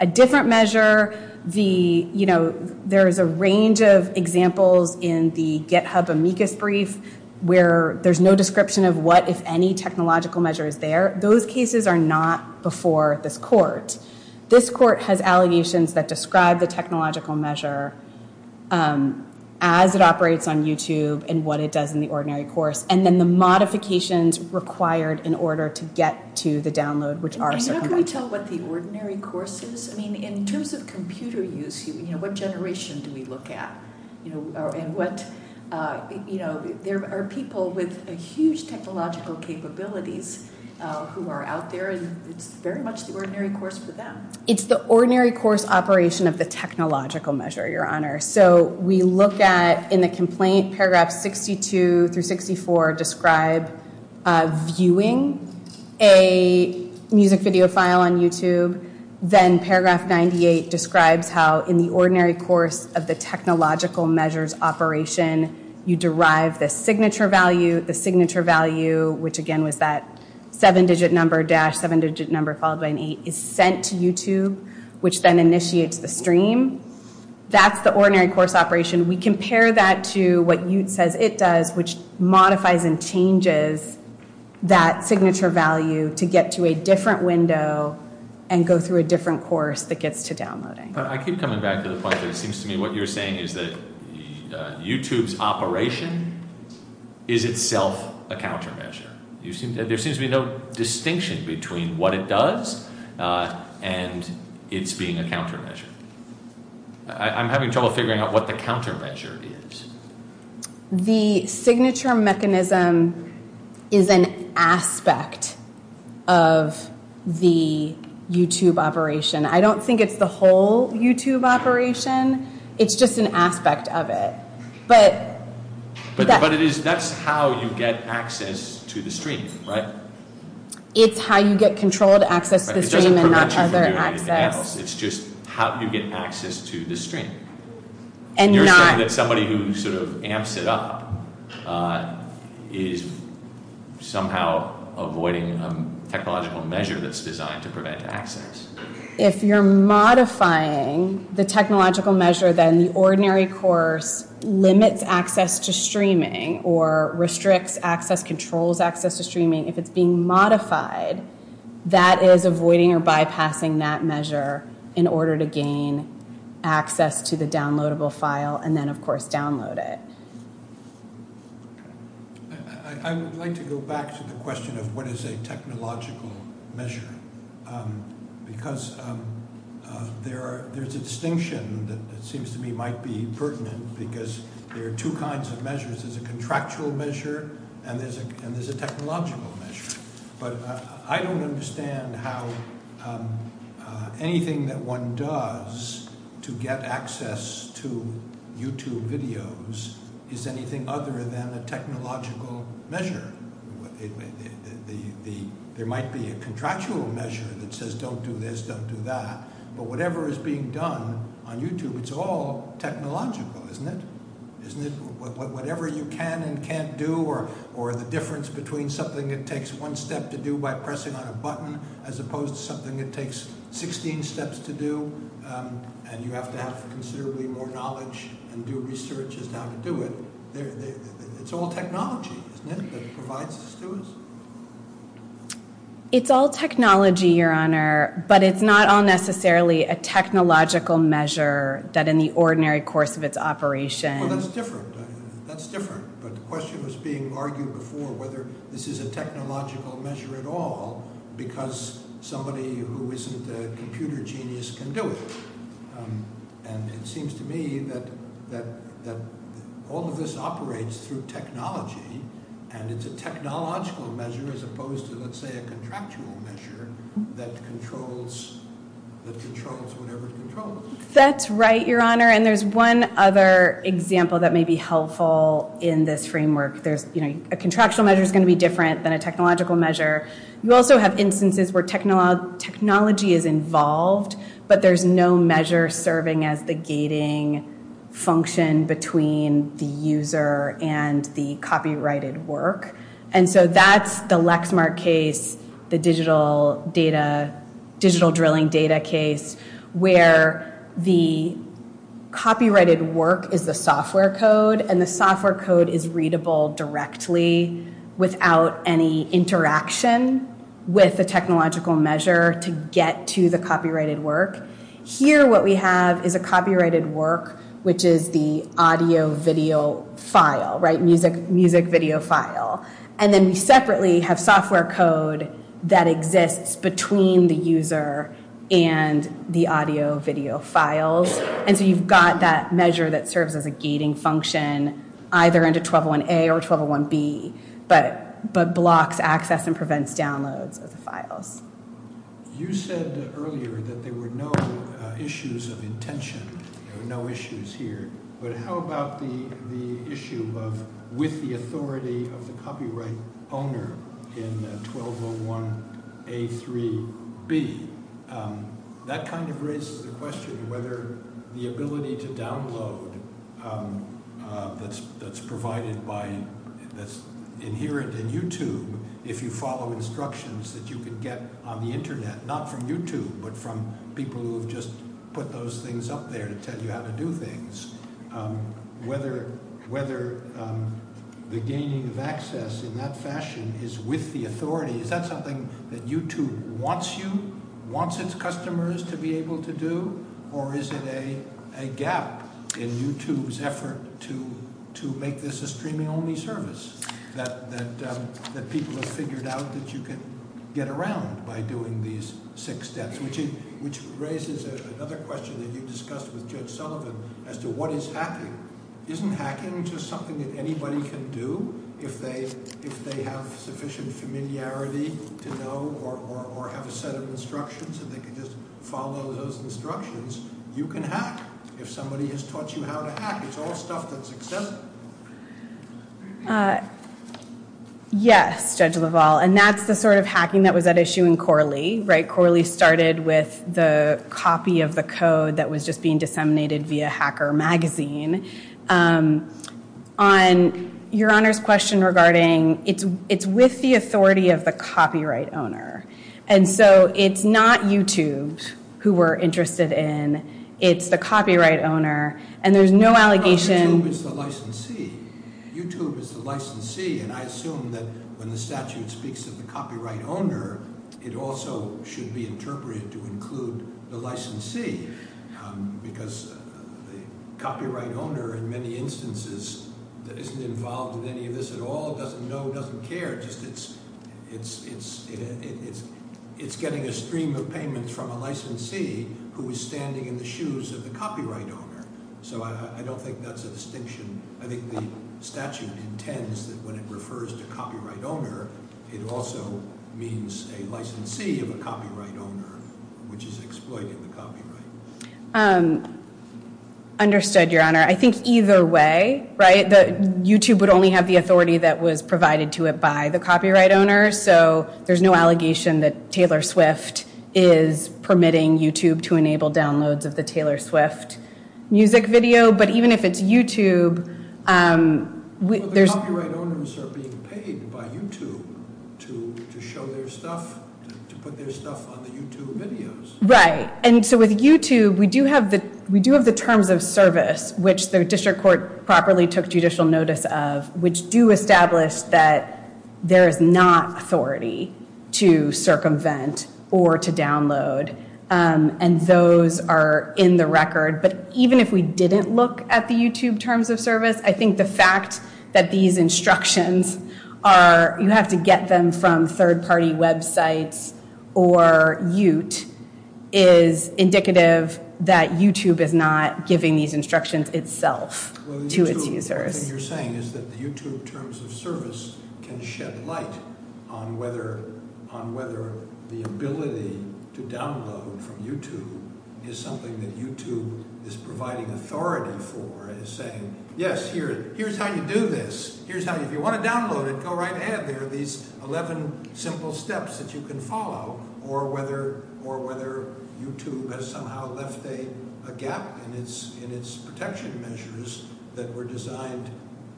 as it operates on YouTube and what it does in the ordinary course and then the modifications required in order to get to the download which are circumvented. Can we tell what the ordinary course is? I mean in terms of computer use what generation do we look at? And what you know there are people with a huge technological capabilities who are out there and it's very much the ordinary course for them. It's the ordinary course operation of the technological measure your honor so we look at in the complaint paragraph 62 through 64 describe viewing a music video file on YouTube then paragraph 98 describes how in the ordinary course of the technological measures operation you derive the signature value the signature value which again was that seven digit number dash seven digit number followed by an eight is sent to YouTube which then initiates the stream that's the ordinary course operation we compare that to what you says it does modifies and changes that signature value to get to a different window and go through a different course that gets to downloading. I keep and it's being a countermeasure I'm having trouble figuring out what the countermeasure is. The signature mechanism is an aspect of the YouTube operation I don't think it's the whole YouTube operation it's just an aspect of it but but it is that's how you get access to the stream right? It's how you get control to access the stream and not other access. It's just how you get access to the stream and you're saying that somebody who sort of amps it up is somehow avoiding a technological measure that's designed to prevent access. If you're modifying the technological measure then the ordinary course limits access to streaming or restricts access controls access to streaming if it's being modified that is avoiding or bypassing that measure in order to gain access to the downloadable file and then of course download it. I would like to go back to the question of what is a technological measure because there's a distinction that seems to me might be pertinent because there are two kinds of measures. There's a contractual measure and there's a technological measure but I don't understand how anything that one does to get access to YouTube videos is anything other than a technological measure. There might be a contractual measure that is all technological isn't it? Isn't it whatever you can and can't do or the difference between something that takes one step to do by pressing on a button as opposed to something that takes 16 steps to do and you have to have considerably more knowledge and do research on how to do it. It's all technology isn't it that provides this to us? It's all technology Your Honor but it's not all necessarily a technological measure that in the ordinary course of its operation Well that's different. That's different but the question was being argued before whether this is a all of this operates through technology and it's a technological measure as opposed to let's say a contractual measure that controls that controls whatever it controls. That's right Your Honor and there's one other example that may be helpful in this framework. There's you know a contractual measure is going to be different than a technological measure. You also have instances where technology is involved but there's no measure serving as the gating function between the user and the copyrighted work. And so that's the Lexmark case, the digital drilling data case where the copyrighted work is the software code and the software code is the interaction with the technological measure to get to the copyrighted work. Here what we have is a copyrighted work which is the audio video file right music video file and then we separately have software code that exists between the user and the audio video files and so you've got that measure that serves as a gating function either into 1201A or 1201B but blocks access and prevents downloads of the files. You said earlier that there were no issues of intention, no issues here but how about the issue of with the authority of the copyright owner in 1201A3B that kind of raises the question whether the ability to download that's provided by that's inherent in YouTube if you follow instructions that you can get on the internet not from YouTube but from people who have just put those things up there to tell you how to do things whether the gaining of access in that fashion is with the authority is that something that YouTube wants you wants its customers to be able to do or is it a gap in YouTube's effort to make this a streaming only service that people have figured out that you can get around by doing these six steps which raises another question that you discussed with Judge Sullivan as to what is hacking? Isn't hacking just something that anybody can do if they have sufficient familiarity to know or have a set of instructions so they can just follow those instructions you can hack if somebody has taught you how to hack. It's all stuff that's accessible. Yes, Judge LaValle, and that's the sort of hacking that was at issue in Corley. Right, Corley started with the copy of the code that was just being disseminated via Hacker Magazine on Your Honor's question regarding it's with the authority of the copyright owner and so it's not YouTube who we're interested in. It's the copyright owner and there's no allegation YouTube is the licensee and I assume that when the statute speaks of the copyright owner it also should be interpreted to include the licensee because the copyright owner in many instances isn't involved in any of this at all, doesn't know, doesn't care, just it's getting a stream of payments from a licensee who is standing in the shoes of the copyright owner. So I don't think that's a distinction. I think the statute intends that when it refers to copyright owner it also means a licensee of a copyright owner which is exploiting the copyright. Understood, your honor. I think either way, right, YouTube would only have the authority that was provided to it by the copyright owner so there's no allegation that Taylor Swift is permitting YouTube to enable downloads of the Taylor Swift music video but even if it's YouTube there's Well the copyright owners are being paid by YouTube to show their stuff, to put their stuff on the YouTube videos. Right, and so with YouTube we do have the terms of service which the district court properly took judicial notice of which do establish that there is not authority to circumvent or to download and those are in the record but even if we didn't look at the YouTube terms of service, I think the fact that these instructions are, you have to get them from third-party websites or Ute is indicative that YouTube is not giving these instructions itself to its users. What you're saying is that the YouTube terms of service can shed light on whether on whether the ability to download from YouTube is something that YouTube is providing authority for is saying yes, here's how you do this, here's how if you want to download it, go right ahead there are these 11 simple steps that you can follow or whether YouTube has somehow left a gap in its protection measures that were designed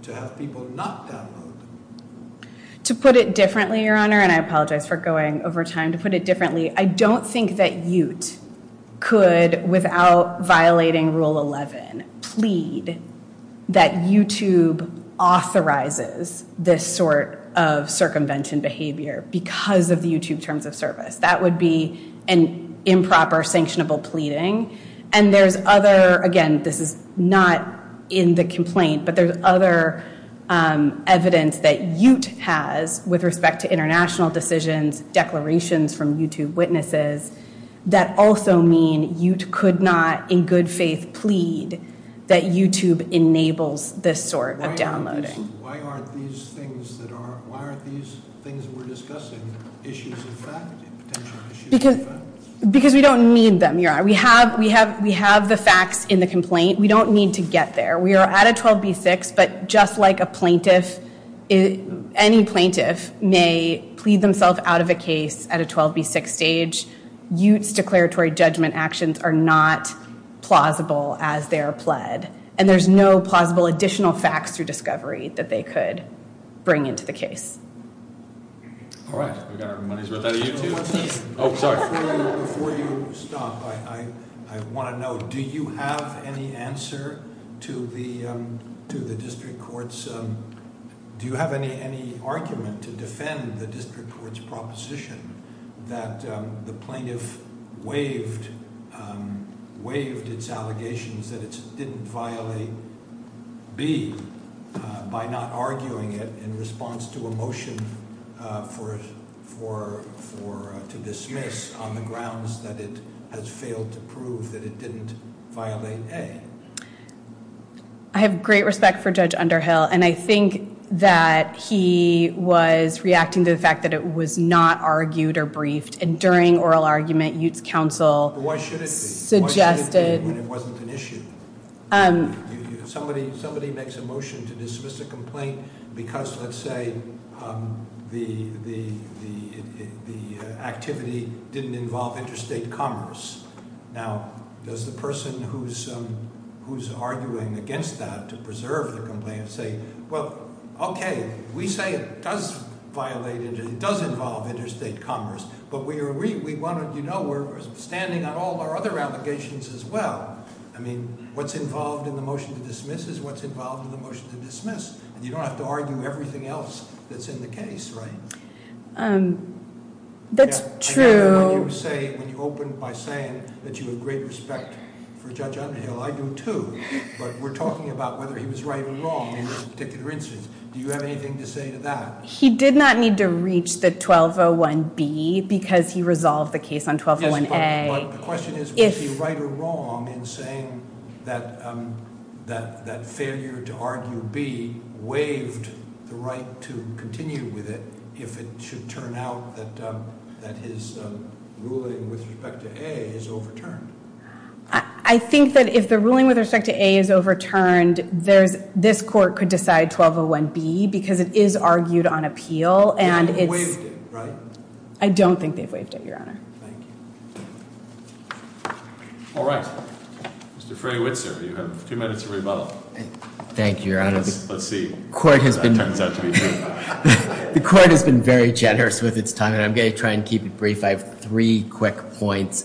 to have people not download them. To put it differently, Your Honor, and I apologize for going over time to put it differently, I don't think that Ute could, without violating Rule 11, plead that YouTube authorizes this sort of circumvention behavior because of the YouTube terms of service. That would be an improper sanctionable pleading and there's other, again, this is not in the complaint, but there's other evidence that Ute has with respect to international decisions, declarations from YouTube witnesses that also mean Ute could not in good faith plead that YouTube enables this sort of downloading. Why aren't these things that are, why aren't these things we're discussing issues of fact? Because we don't need them, Your Honor. We have, we have, we have the facts in the complaint. We don't need to get there. We are at a 12B6, but just like a plaintiff, any plaintiff may plead themselves out of a case at a 12B6 stage, Ute's declaratory judgment actions are not plausible as they are pled and there's no plausible additional facts through discovery that they could bring into the case. All right, we got our money's worth out of YouTube. Oh, sorry. Before you, before you stop, I, I, I want to know do you have any answer to the, um, to the district court's, um, do you have any, any argument to defend the district court's proposition that, um, the plaintiff waived, um, waived its allegations that it had failed to prove that it didn't violate A? I have great respect for Judge Underhill and I think that he was reacting to the fact that it was not argued or briefed and during oral argument Ute's counsel suggested Why should it be when it wasn't an issue? Um, Somebody, somebody makes a motion to dismiss a complaint because, let's say, um, the, the, the, the, uh, activity didn't involve interstate commerce. Now, does the person who's, um, who's arguing against that to preserve the complaint say, well, okay, we say it does violate it and it does involve interstate commerce but we are, we want to, you know, we're standing on all of our other allegations as well. I mean, what's involved in the motion to dismiss is what's involved in the motion to dismiss and you don't have to argue everything else that's in the case, right? Um, that's true. When you say, when you opened by saying that you have great respect for Judge Underhill, I do too, but we're talking about whether he was right or wrong in this particular instance. Do you have anything to say to that? He did not need to reach the 1201B because he resolved the case on 1201A. But the question is was he right or wrong in saying that, um, that, that failure to argue B waived the right to continue with it if it should turn out that, um, that his ruling with respect to A is overturned? I think that if the ruling with respect to A is overturned, there's, this court could decide 1201B because it is argued on appeal and it's not to continue with it. I don't think they've waived it, Your Honor. Thank you. All right. Mr. Freywitzer, you have two minutes to rebuttal. Thank you, Your Honor. Let's see if that turns out to be true. The court has been very generous with its time and I'm going to try and keep it brief. I have three quick points.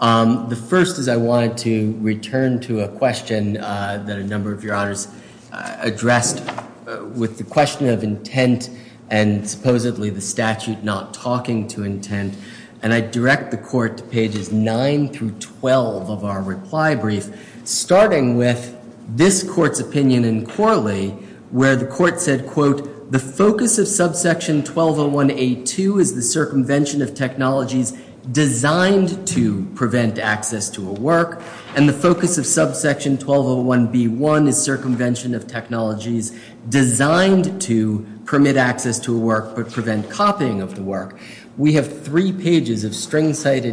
The first is I wanted to return to a question that a number of Your Honors addressed with the question of intent and supposedly the statute not talking to intent and I direct the court to pages 9 through 12 of our reply brief starting with this section designed to prevent access to a work and the focus of subsection 1201B1 is circumvention of technologies designed to permit access to a work but prevent copying of the work. We have three pages of articles which were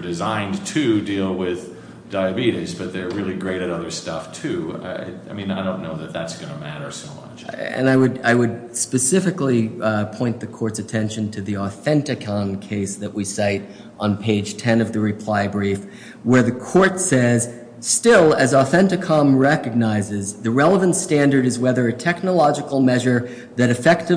designed to deal with diabetes but they are great at other stuff too. I don't know that that is going to matter so much. I would specifically point the subsection 1201B1 is designed to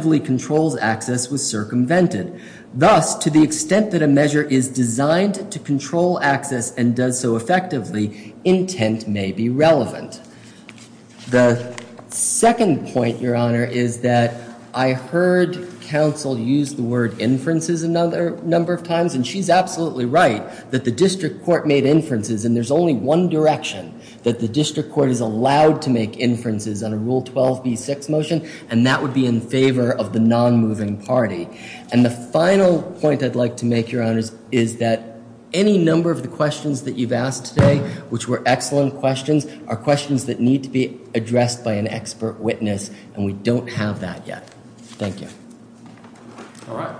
control access and does so effectively intent may be relevant. The second point your honor is that I heard counsel use the word inferences a number of times and she's absolutely right that the district court made inferences and there's only one direction that the district court is allowed to make inferences and that would be in favor of district court.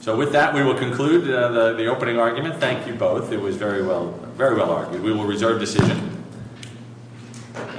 So with that we will conclude the opening argument. Thank you both. It was very well argued. We will reserve decision.